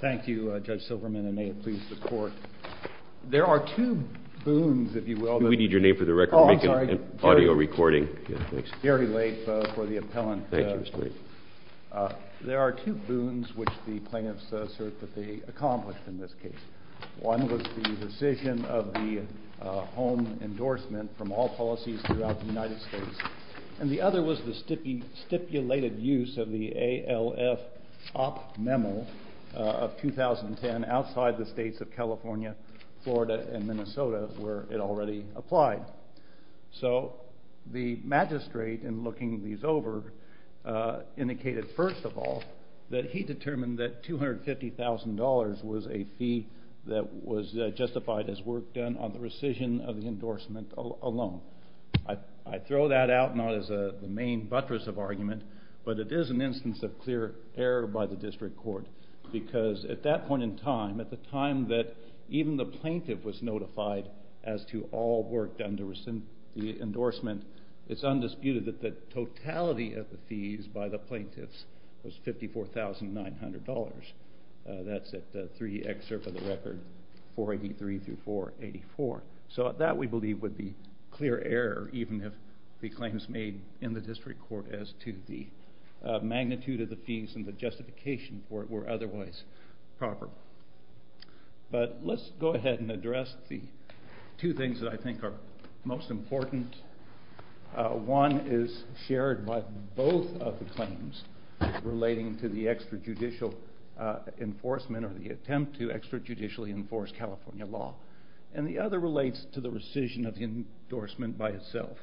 Thank you Judge Silverman and may it please the Court. There are two boons which the plaintiffs assert that they accomplished in this case. One was the rescission of the home endorsement from all policies throughout the United States. And the other was the stipulated use of the ALF op memo of 2010 outside the states of California, Florida and Minnesota where it already applied. So the magistrate in looking these over indicated first of all that he determined that $250,000 was a fee that was justified as work done on the rescission of the endorsement alone. I throw that out not as the main buttress of argument, but it is an instance of clear error by the district court. Because at that point in time, at the time that even the plaintiff was notified as to all work done to rescind the endorsement, it's undisputed that the totality of the fees by the plaintiffs was $54,900. That's at 3 excerpt of the record, 483 through 484. So that we believe would be clear error even if the claims made in the district court as to the magnitude of the fees and the justification for it were otherwise proper. But let's go ahead and address the two things that I think are most important. One is shared by both of the claims relating to the extrajudicial enforcement or the attempt to extrajudicially enforce California law. And the other relates to the rescission of the endorsement by itself.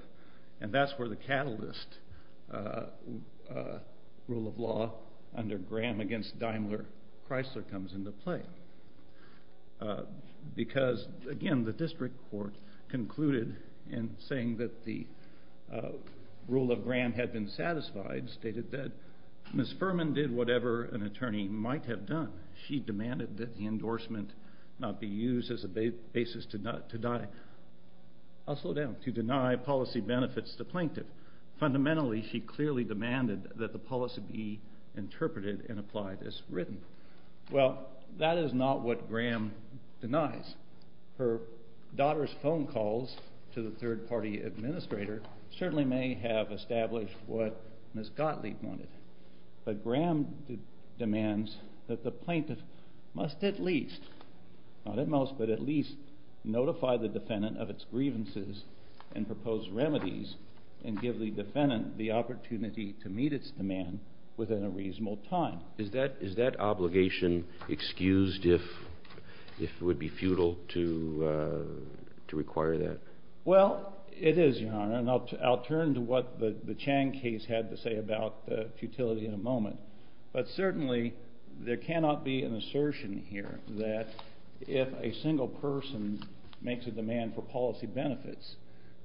And that's where the catalyst rule of law under Graham against Daimler-Chrysler comes into play. Because again, the district court concluded in saying that the rule of Graham had been satisfied, stated that Ms. Furman did whatever an attorney might have done. She demanded that the endorsement not be used as a basis to die. I'll slow down. To deny policy benefits to the plaintiff. Fundamentally, she clearly demanded that the policy be interpreted and applied as written. Well, that is not what Graham denies. Her daughter's phone calls to the third party administrator certainly may have established what Ms. Gottlieb wanted. But Graham demands that the plaintiff must at least, not at most, but at least notify the defendant of its grievances and propose remedies and give the defendant the opportunity to meet its demand within a reasonable time. Is that obligation excused if it would be futile to require that? Well, it is, Your Honor, and I'll turn to what the Chang case had to say about the futility in a moment. But certainly, there cannot be an assertion here that if a single person makes a demand for policy benefits,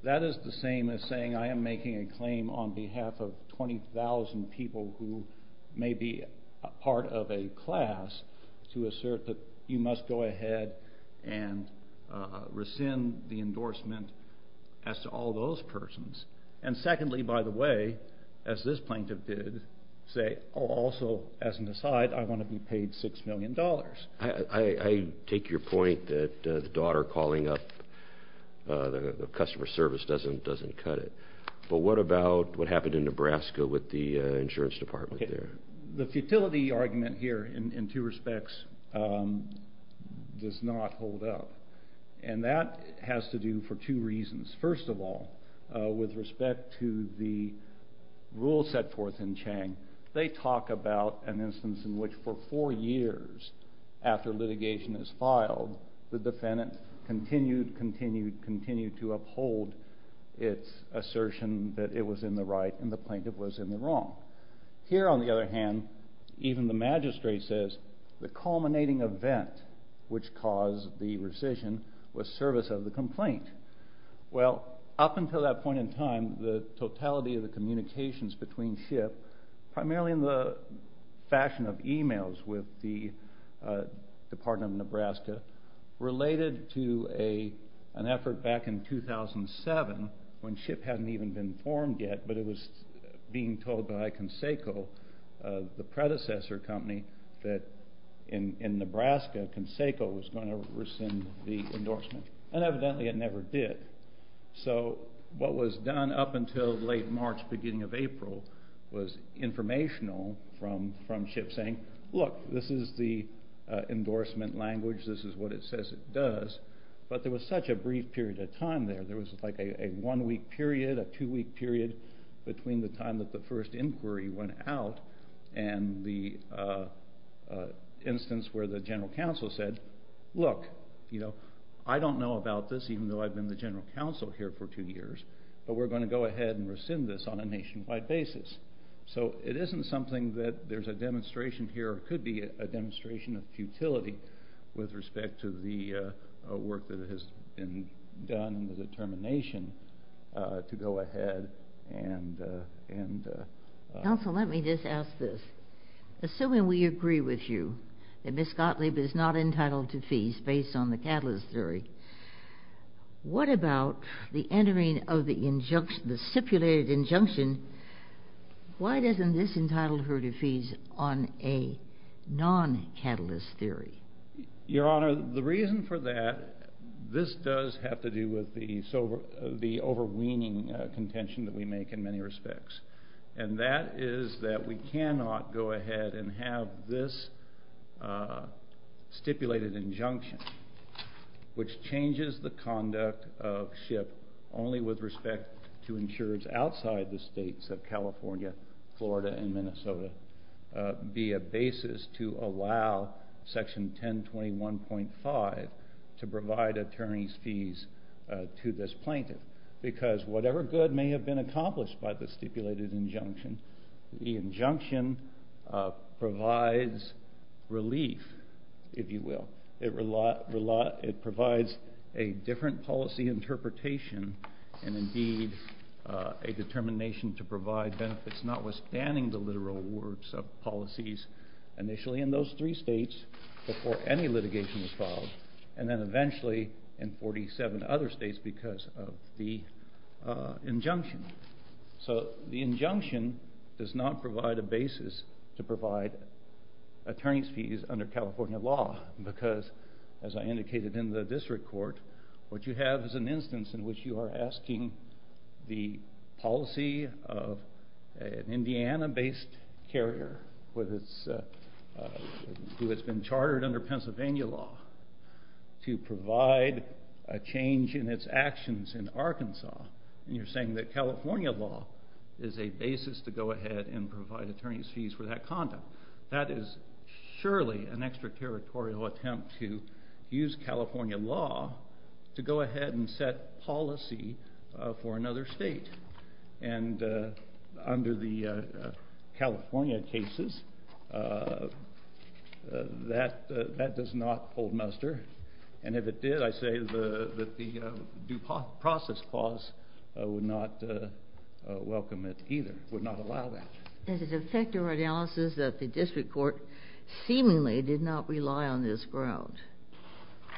that is the same as saying I am making a claim on behalf of 20,000 people who may be part of a class to assert that you must go ahead and rescind the endorsement as to all those persons. And secondly, by the way, as this plaintiff did, say, oh, also, as an aside, I want to be paid $6 million. I take your point that the daughter calling up the customer service doesn't cut it. But what about what happened in Nebraska with the insurance department there? The futility argument here in two respects does not hold up. And that has to do for two reasons. First of all, with respect to the rule set forth in Chang, they talk about an instance in which for four years after litigation is filed, the defendant continued, continued, continued to uphold its assertion that it was in the right and the plaintiff was in the wrong. Here, on the other hand, even the magistrate says the culminating event which caused the rescission was service of the complaint. Well, up until that point in time, the totality of the communications between SHIP, primarily in the fashion of emails with the Department of Nebraska, related to an effort back in 2007 when SHIP hadn't even been formed yet, but it was being told by Conseco, the predecessor company, that in Nebraska, Conseco was going to rescind the endorsement. And evidently it never did. So what was done up until late March, beginning of April, was informational from SHIP saying, look, this is the endorsement language, this is what it says it does. But there was such a brief period of time there. There was like a one-week period, a two-week period between the time that the first inquiry went out and the instance where the general counsel said, look, I don't know about this, even though I've been the general counsel here for two years, but we're going to go ahead and rescind this on a nationwide basis. So it isn't something that there's a demonstration here or could be a demonstration of futility with respect to the work that has been done and the determination to go ahead and— Your Honor, the reason for that, this does have to do with the overweening contention that we make in many respects. And that is that we cannot go ahead and have this stipulated injunction, which changes the conduct of SHIP only with respect to insurers outside the states of California, Florida, and Minnesota, be a basis to allow Section 1021.5 to provide attorneys' fees to this plaintiff. Because whatever good may have been accomplished by the stipulated injunction, the injunction provides relief, if you will. It provides a different policy interpretation and, indeed, a determination to provide benefits notwithstanding the literal words of policies initially in those three states before any litigation was filed, and then eventually in 47 other states because of the injunction. So the injunction does not provide a basis to provide attorneys' fees under California law because, as I indicated in the district court, what you have is an instance in which you are asking the policy of an Indiana-based carrier who has been chartered under Pennsylvania law to provide a change in its actions in Arkansas. And you're saying that California law is a basis to go ahead and provide attorneys' fees for that conduct. That is surely an extraterritorial attempt to use California law to go ahead and set policy for another state. And under the California cases, that does not hold muster. And if it did, I say that the due process clause would not welcome it either, would not allow that. It is effective analysis that the district court seemingly did not rely on this ground.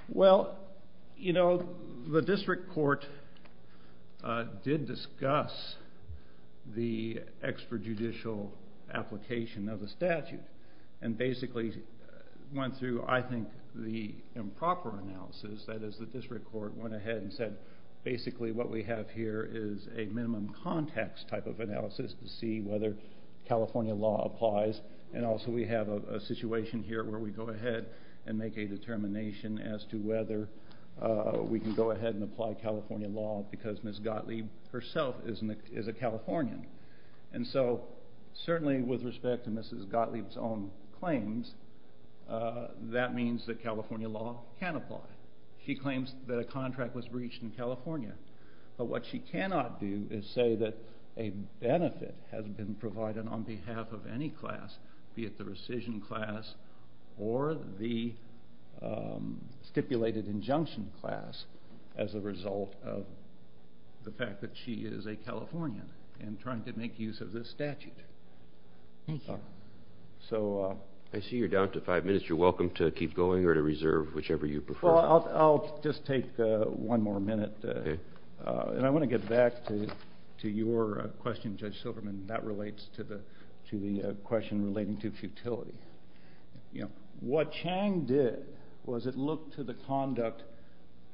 Well, you know, the district court did discuss the extrajudicial application of the statute and basically went through, I think, the improper analysis. That is, the district court went ahead and said, basically what we have here is a minimum context type of analysis to see whether California law applies. And also we have a situation here where we go ahead and make a determination as to whether we can go ahead and apply California law because Ms. Gottlieb herself is a Californian. And so certainly with respect to Ms. Gottlieb's own claims, that means that California law can apply. She claims that a contract was breached in California. But what she cannot do is say that a benefit has been provided on behalf of any class, be it the rescission class or the stipulated injunction class, as a result of the fact that she is a Californian and trying to make use of this statute. I see you're down to five minutes. You're welcome to keep going or to reserve whichever you prefer. I'll just take one more minute. And I want to get back to your question, Judge Silverman, that relates to the question relating to futility. What Chang did was it looked to the conduct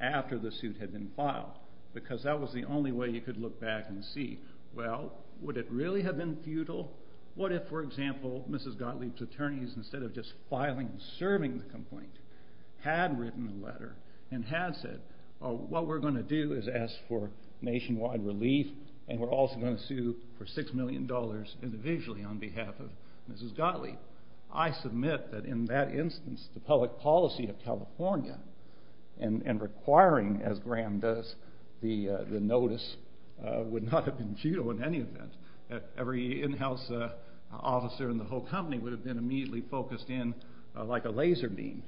after the suit had been filed because that was the only way you could look back and see, well, would it really have been futile? What if, for example, Ms. Gottlieb's attorneys, instead of just filing and serving the complaint, had written a letter and had said, well, what we're going to do is ask for nationwide relief and we're also going to sue for $6 million individually on behalf of Ms. Gottlieb. I submit that in that instance, the public policy of California and requiring, as Graham does, the notice would not have been futile in any event. Every in-house officer in the whole company would have been immediately focused in like a laser beam.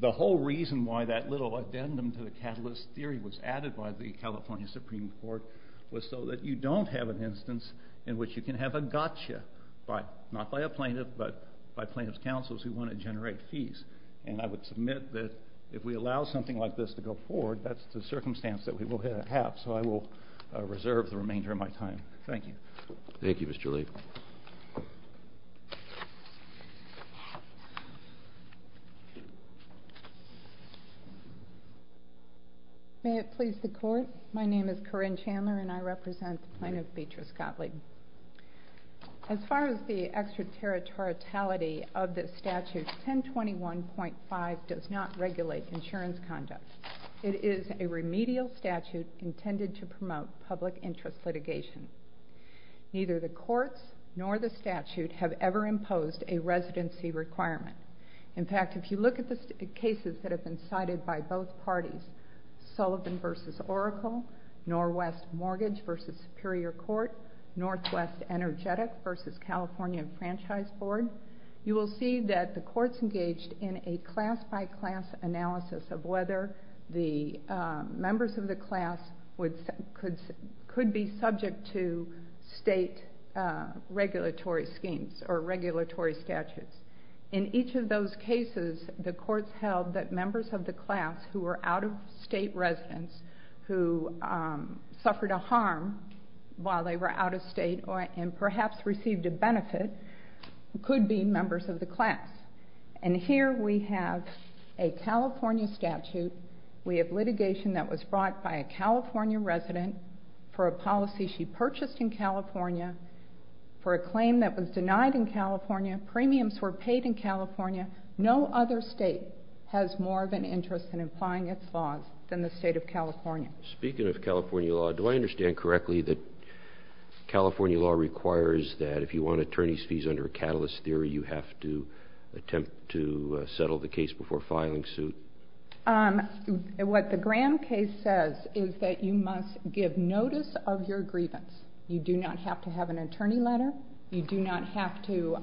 The whole reason why that little addendum to the catalyst theory was added by the California Supreme Court was so that you don't have an instance in which you can have a gotcha, not by a plaintiff, but by plaintiff's counsels who want to generate fees. And I would submit that if we allow something like this to go forward, that's the circumstance that we will have. So I will reserve the remainder of my time. Thank you. Thank you, Mr. Lee. May it please the court, my name is Corinne Chandler and I represent the plaintiff, Beatrice Gottlieb. As far as the extraterritoriality of this statute, 1021.5 does not regulate insurance conduct. It is a remedial statute intended to promote public interest litigation. Neither the courts nor the statute have ever imposed a residency requirement. In fact, if you look at the cases that have been cited by both parties, Sullivan v. Oracle, Norwest Mortgage v. Superior Court, Northwest Energetic v. California Franchise Board, you will see that the courts engaged in a class-by-class analysis of whether the members of the class could be subject to state regulatory schemes or regulatory statutes. In each of those cases, the courts held that members of the class who were out-of-state residents who suffered a harm while they were out-of-state and perhaps received a benefit could be members of the class. And here we have a California statute. We have litigation that was brought by a California resident for a policy she purchased in California. For a claim that was denied in California, premiums were paid in California. No other state has more of an interest in applying its laws than the state of California. Speaking of California law, do I understand correctly that California law requires that if you want attorney's fees under a catalyst theory, you have to attempt to settle the case before filing suit? What the Graham case says is that you must give notice of your grievance. You do not have to have an attorney letter. You do not have to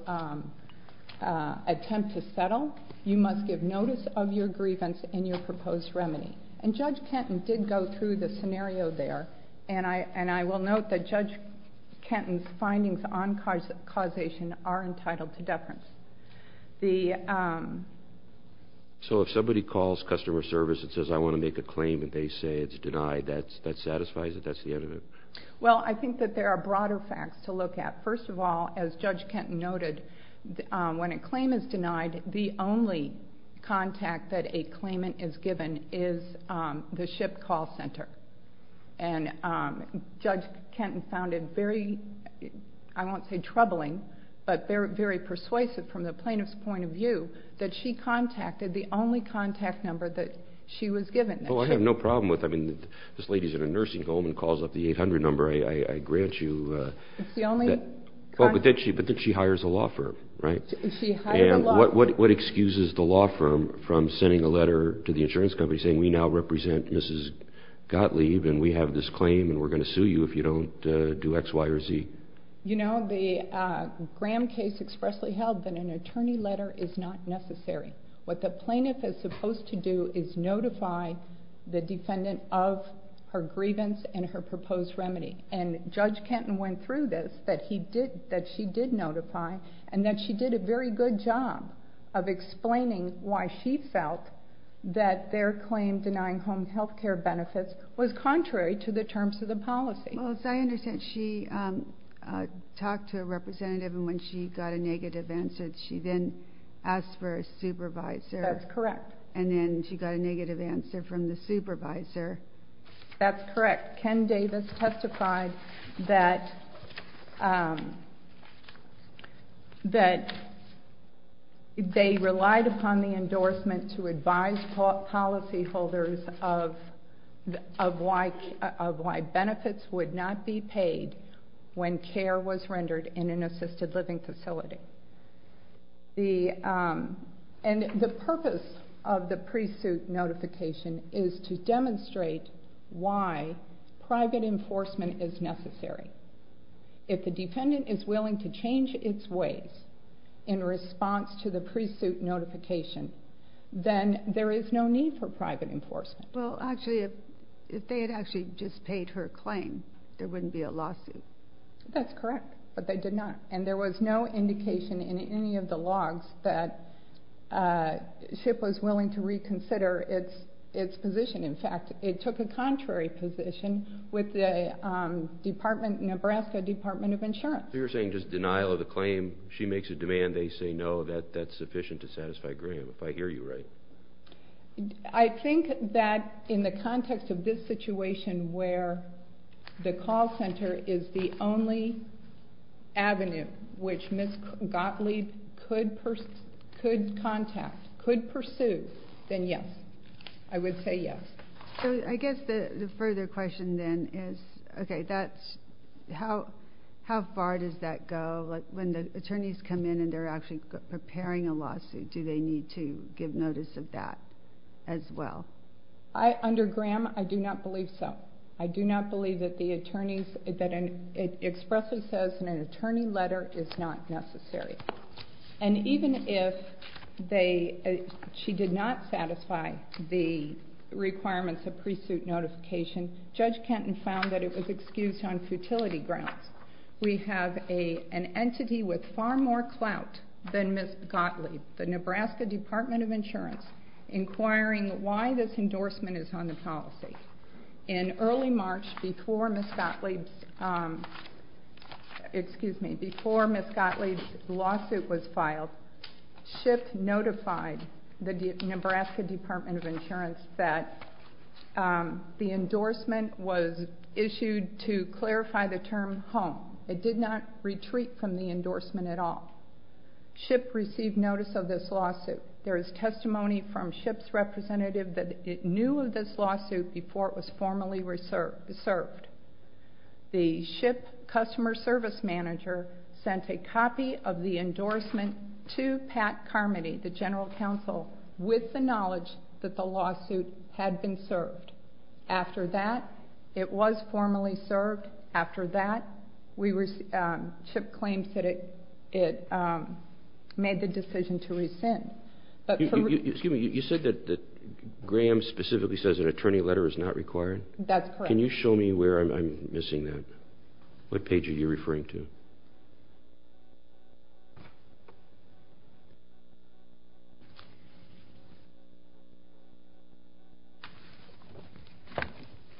attempt to settle. You must give notice of your grievance in your proposed remedy. And Judge Kenton did go through the scenario there, and I will note that Judge Kenton's findings on causation are entitled to deference. So if somebody calls customer service and says, I want to make a claim, and they say it's denied, that satisfies it? That's the end of it? Well, I think that there are broader facts to look at. First of all, as Judge Kenton noted, when a claim is denied, the only contact that a claimant is given is the SHIP call center. And Judge Kenton found it very, I won't say troubling, but very persuasive from the plaintiff's point of view that she contacted the only contact number that she was given. Well, I have no problem with it. I mean, this lady's in a nursing home and calls up the 800 number. I grant you that. It's the only contact. But then she hires a law firm, right? She hired a law firm. What excuses the law firm from sending a letter to the insurance company saying, we now represent Mrs. Gottlieb, and we have this claim, and we're going to sue you if you don't do X, Y, or Z? You know, the Graham case expressly held that an attorney letter is not necessary. What the plaintiff is supposed to do is notify the defendant of her grievance and her proposed remedy. And Judge Kenton went through this, that she did notify, and that she did a very good job of explaining why she felt that their claim denying home health care benefits was contrary to the terms of the policy. Well, as I understand, she talked to a representative, and when she got a negative answer, she then asked for a supervisor. That's correct. And then she got a negative answer from the supervisor. That's correct. Ken Davis testified that they relied upon the endorsement to advise policyholders of why benefits would not be paid when care was rendered in an assisted living facility. And the purpose of the pre-suit notification is to demonstrate why private enforcement is necessary. If the defendant is willing to change its ways in response to the pre-suit notification, then there is no need for private enforcement. Well, actually, if they had actually just paid her claim, there wouldn't be a lawsuit. That's correct, but they did not. And there was no indication in any of the logs that SHIP was willing to reconsider its position. In fact, it took a contrary position with the Nebraska Department of Insurance. So you're saying just denial of the claim, she makes a demand, they say no, that's sufficient to satisfy Graham, if I hear you right. I think that in the context of this situation where the call center is the only avenue which Ms. Gottlieb could contact, could pursue, then yes. I would say yes. So I guess the further question then is, okay, how far does that go? When the attorneys come in and they're actually preparing a lawsuit, do they need to give notice of that as well? Under Graham, I do not believe so. I do not believe that the attorneys, that it expressly says in an attorney letter, it's not necessary. And even if she did not satisfy the requirements of pre-suit notification, Judge Kenton found that it was excused on futility grounds. We have an entity with far more clout than Ms. Gottlieb, the Nebraska Department of Insurance, inquiring why this endorsement is on the policy. In early March, before Ms. Gottlieb's, excuse me, before Ms. Gottlieb's lawsuit was filed, SHIP notified the Nebraska Department of Insurance that the endorsement was issued to clarify the term home. It did not retreat from the endorsement at all. SHIP received notice of this lawsuit. There is testimony from SHIP's representative that it knew of this lawsuit before it was formally served. The SHIP customer service manager sent a copy of the endorsement to Pat Carmody, the general counsel, with the knowledge that the lawsuit had been served. After that, it was formally served. After that, SHIP claims that it made the decision to rescind. Excuse me, you said that Graham specifically says an attorney letter is not required? That's correct. Can you show me where I'm missing that? What page are you referring to?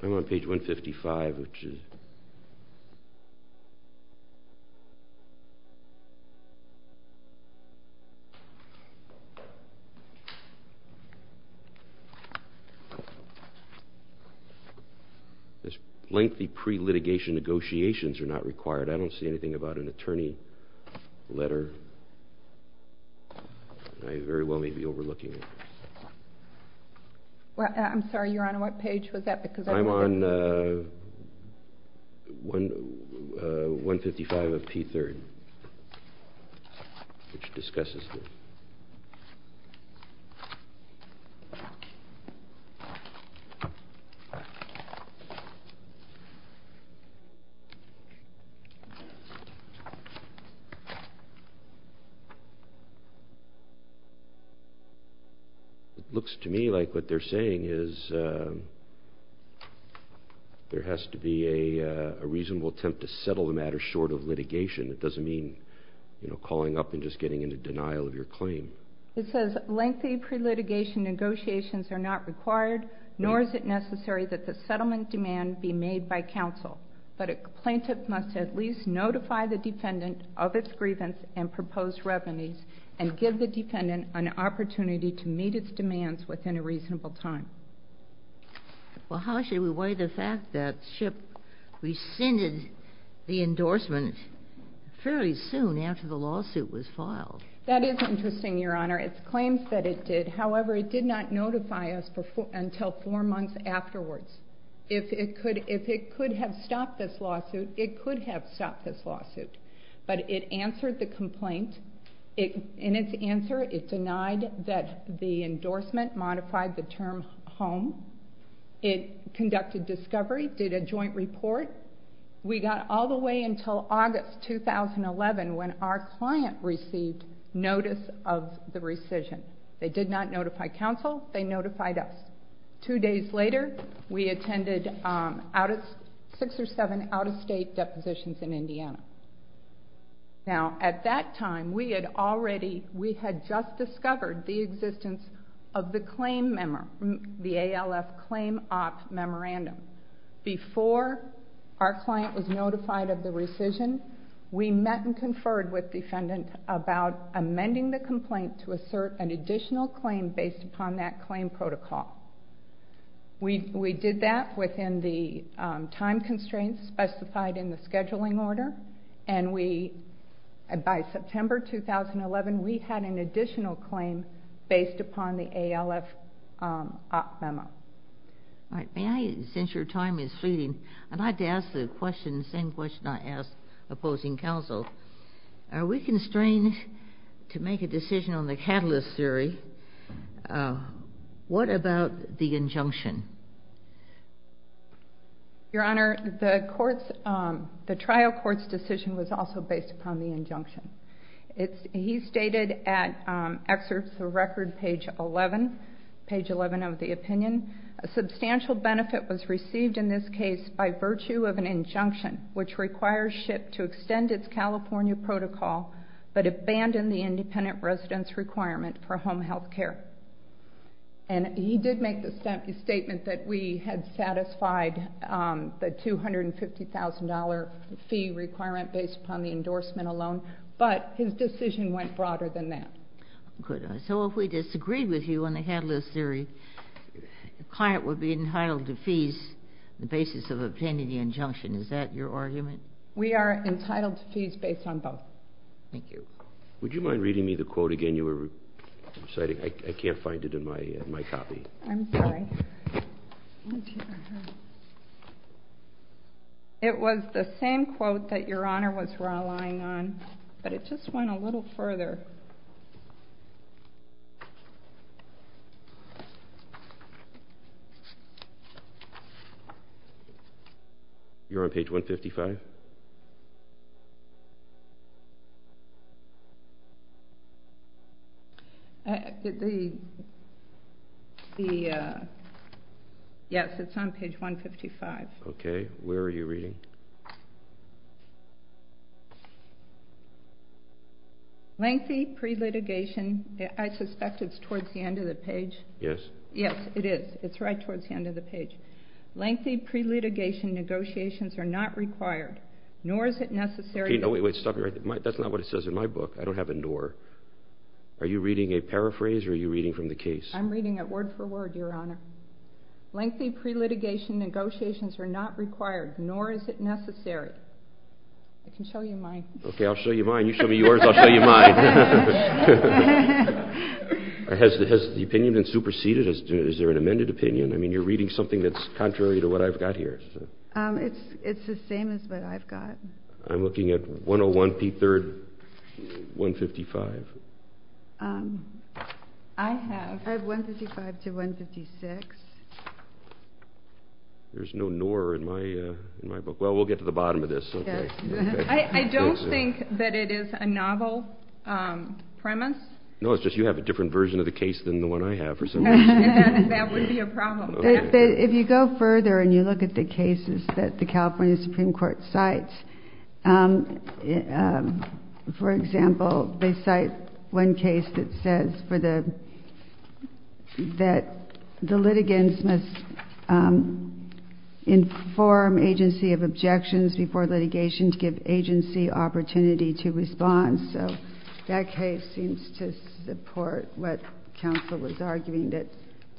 I'm on page 155, which is... Lengthy pre-litigation negotiations are not required. I don't see anything about an attorney letter. I very well may be overlooking it. I'm sorry, Your Honor, what page was that? I'm on 155 of P3rd, which discusses this. It looks to me like what they're saying is there has to be a reasonable attempt to settle the matter short of litigation. It doesn't mean calling up and just getting into denial of your claim. It says lengthy pre-litigation negotiations are not required, nor is it necessary that the settlement demand be made by counsel, but a plaintiff must at least notify the defendant of its grievance and proposed revenues and give the defendant an opportunity to meet its demands within a reasonable time. Well, how should we weigh the fact that SHIP rescinded the endorsement fairly soon after the lawsuit was filed? That is interesting, Your Honor. It claims that it did. However, it did not notify us until four months afterwards. If it could have stopped this lawsuit, it could have stopped this lawsuit. But it answered the complaint. In its answer, it denied that the endorsement modified the term home. It conducted discovery, did a joint report. We got all the way until August 2011 when our client received notice of the rescission. They did not notify counsel. They notified us. Two days later, we attended six or seven out-of-state depositions in Indiana. Now, at that time, we had just discovered the existence of the ALF Claim Op Memorandum. Before our client was notified of the rescission, we met and conferred with the defendant about amending the complaint to assert an additional claim based upon that claim protocol. We did that within the time constraints specified in the scheduling order. And by September 2011, we had an additional claim based upon the ALF Op Memo. All right. May I, since your time is fleeting, I'd like to ask the same question I asked opposing counsel. Are we constrained to make a decision on the catalyst theory? What about the injunction? Your Honor, the trial court's decision was also based upon the injunction. He stated at excerpts of record page 11, page 11 of the opinion, a substantial benefit was received in this case by virtue of an injunction which requires SHIP to extend its California protocol but abandon the independent residence requirement for home health care. And he did make the statement that we had satisfied the $250,000 fee requirement based upon the endorsement alone, but his decision went broader than that. Good. So if we disagreed with you on the catalyst theory, the client would be entitled to fees on the basis of obtaining the injunction. Is that your argument? We are entitled to fees based on both. Thank you. Would you mind reading me the quote again? You were reciting. I can't find it in my copy. I'm sorry. It was the same quote that Your Honor was relying on, but it just went a little further. You're on page 155? Yes, it's on page 155. Okay. Where are you reading? Lengthy pre-litigation. I suspect it's towards the end of the page. Yes. Yes, it is. It's right towards the end of the page. Lengthy pre-litigation negotiations are not required, nor is it necessary. Wait, stop. That's not what it says in my book. I don't have a nor. Are you reading a paraphrase or are you reading from the case? I'm reading it word for word, Your Honor. Lengthy pre-litigation negotiations are not required, nor is it necessary. I can show you mine. Okay, I'll show you mine. You show me yours, I'll show you mine. Has the opinion been superseded? Is there an amended opinion? I mean, you're reading something that's contrary to what I've got here. It's the same as what I've got. I'm looking at 101, p3, 155. I have 155 to 156. There's no nor in my book. Well, we'll get to the bottom of this. I don't think that it is a novel premise. No, it's just you have a different version of the case than the one I have. That would be a problem. If you go further and you look at the cases that the California Supreme Court cites, for example, they cite one case that says that the litigants must inform agency of objections before litigation to give agency opportunity to respond. So that case seems to support what counsel was arguing, that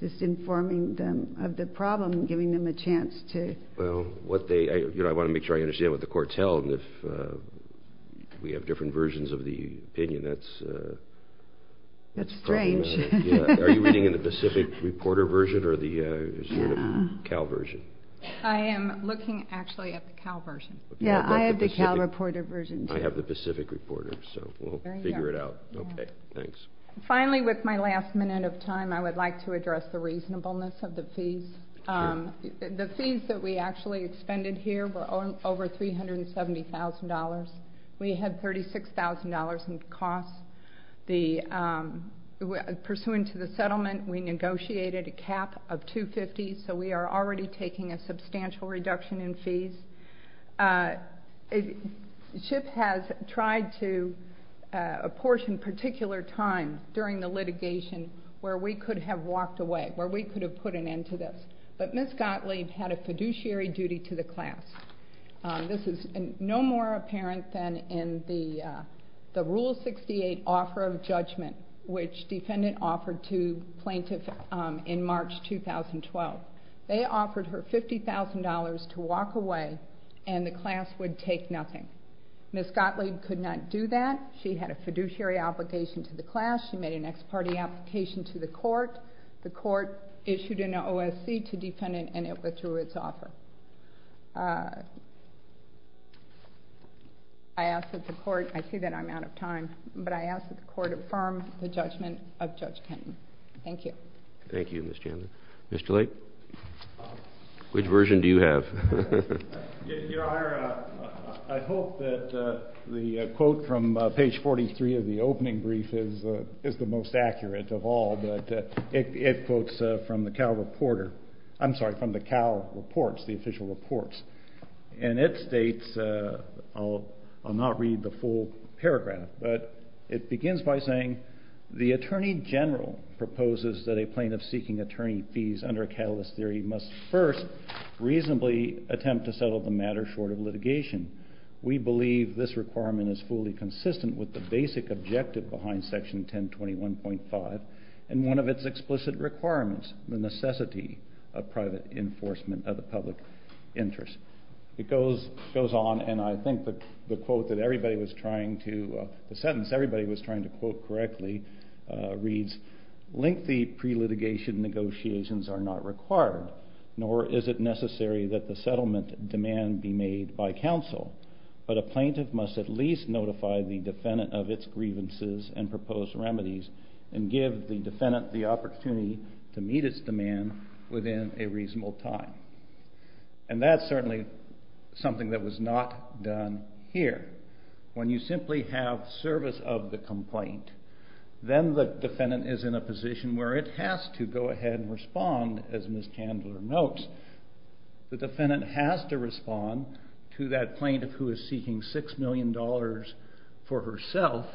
just informing them of the problem, giving them a chance to. Well, I want to make sure I understand what the court tells. If we have different versions of the opinion, that's a problem. That's strange. Are you reading in the Pacific reporter version or the Cal version? I am looking actually at the Cal version. Yeah, I have the Cal reporter version too. I have the Pacific reporter, so we'll figure it out. Okay, thanks. Finally, with my last minute of time, I would like to address the reasonableness of the fees. The fees that we actually expended here were over $370,000. We had $36,000 in costs. Pursuant to the settlement, we negotiated a cap of $250,000, so we are already taking a substantial reduction in fees. SHIP has tried to apportion particular time during the litigation where we could have walked away, where we could have put an end to this, but Ms. Gottlieb had a fiduciary duty to the class. This is no more apparent than in the Rule 68 offer of judgment, which defendant offered to plaintiff in March 2012. They offered her $50,000 to walk away, and the class would take nothing. Ms. Gottlieb could not do that. She had a fiduciary obligation to the class. She made an ex parte application to the court. The court issued an OSC to defendant, and it withdrew its offer. I ask that the court, I see that I'm out of time, but I ask that the court affirm the judgment of Judge Kenton. Thank you. Thank you, Ms. Chandler. Mr. Lake, which version do you have? Your Honor, I hope that the quote from page 43 of the opening brief is the most accurate of all, but it quotes from the Cal Reporter, I'm sorry, from the Cal Reports, the official reports, and it states, I'll not read the full paragraph, but it begins by saying, the Attorney General proposes that a plaintiff seeking attorney fees under a catalyst theory must first reasonably attempt to settle the matter short of litigation. We believe this requirement is fully consistent with the basic objective behind Section 1021.5, and one of its explicit requirements, the necessity of private enforcement of the public interest. It goes on, and I think the quote that everybody was trying to, the sentence everybody was trying to quote correctly reads, lengthy pre-litigation negotiations are not required, nor is it necessary that the settlement demand be made by counsel, but a plaintiff must at least notify the defendant of its grievances and proposed remedies and give the defendant the opportunity to meet its demand within a reasonable time. And that's certainly something that was not done here. When you simply have service of the complaint, then the defendant is in a position where it has to go ahead and respond, as Ms. Chandler notes, the defendant has to respond to that plaintiff who is seeking $6 million for herself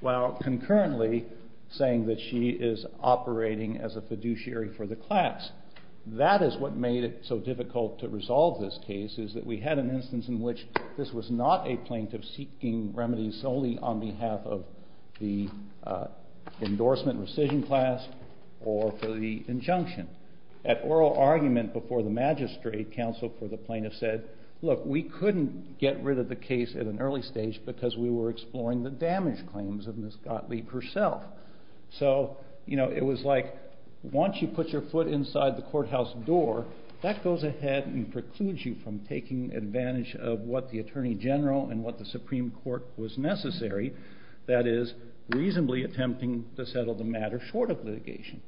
while concurrently saying that she is operating as a fiduciary for the class. That is what made it so difficult to resolve this case, is that we had an instance in which this was not a plaintiff seeking remedies solely on behalf of the endorsement rescission class or for the injunction. At oral argument before the magistrate, counsel for the plaintiff said, look, we couldn't get rid of the case at an early stage because we were exploring the damage claims of Ms. Gottlieb herself. So it was like once you put your foot inside the courthouse door, that goes ahead and precludes you from taking advantage of what the Attorney General and what the Supreme Court was necessary, that is reasonably attempting to settle the matter short of litigation.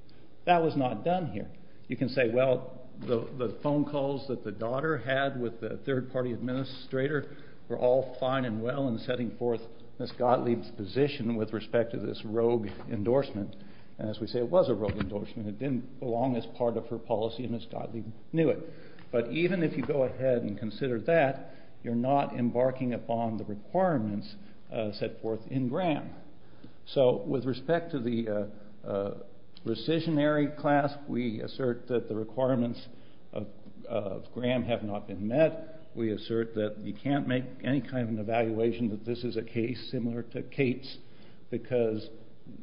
That was not done here. You can say, well, the phone calls that the daughter had with the third-party administrator were all fine and well in setting forth Ms. Gottlieb's position with respect to this rogue endorsement. And as we say, it was a rogue endorsement. It didn't belong as part of her policy, and Ms. Gottlieb knew it. But even if you go ahead and consider that, you're not embarking upon the requirements set forth in Graham. So with respect to the rescissionary class, we assert that the requirements of Graham have not been met. We assert that you can't make any kind of an evaluation that this is a case similar to Kate's because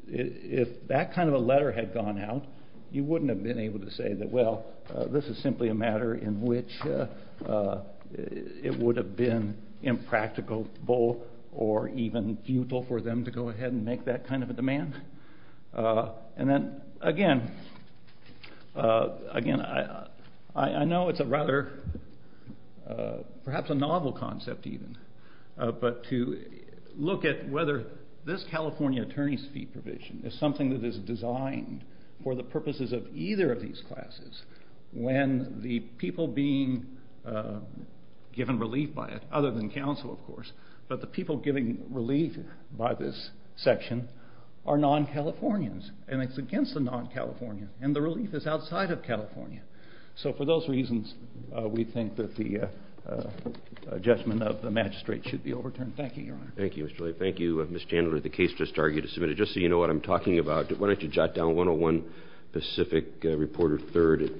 if that kind of a letter had gone out, you wouldn't have been able to say that, well, this is simply a matter in which it would have been impracticable or even futile for them to go ahead and make that kind of a demand. And then, again, I know it's a rather perhaps a novel concept even, but to look at whether this California attorney's fee provision is something that is designed for the purposes of either of these classes when the people being given relief by it, other than counsel, of course, but the people getting relief by this section are non-Californians, and it's against the non-Californians, and the relief is outside of California. So for those reasons, we think that the judgment of the magistrate should be overturned. Thank you, Your Honor. Thank you, Mr. Lee. Thank you, Ms. Chandler. The case just argued is submitted. Just so you know what I'm talking about, why don't you jot down 101 Pacific, reporter third at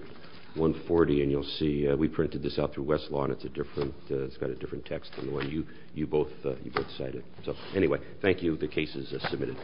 140, and you'll see we printed this out through Westlaw, and it's got a different text than the one you both cited. So anyway, thank you. The case is submitted.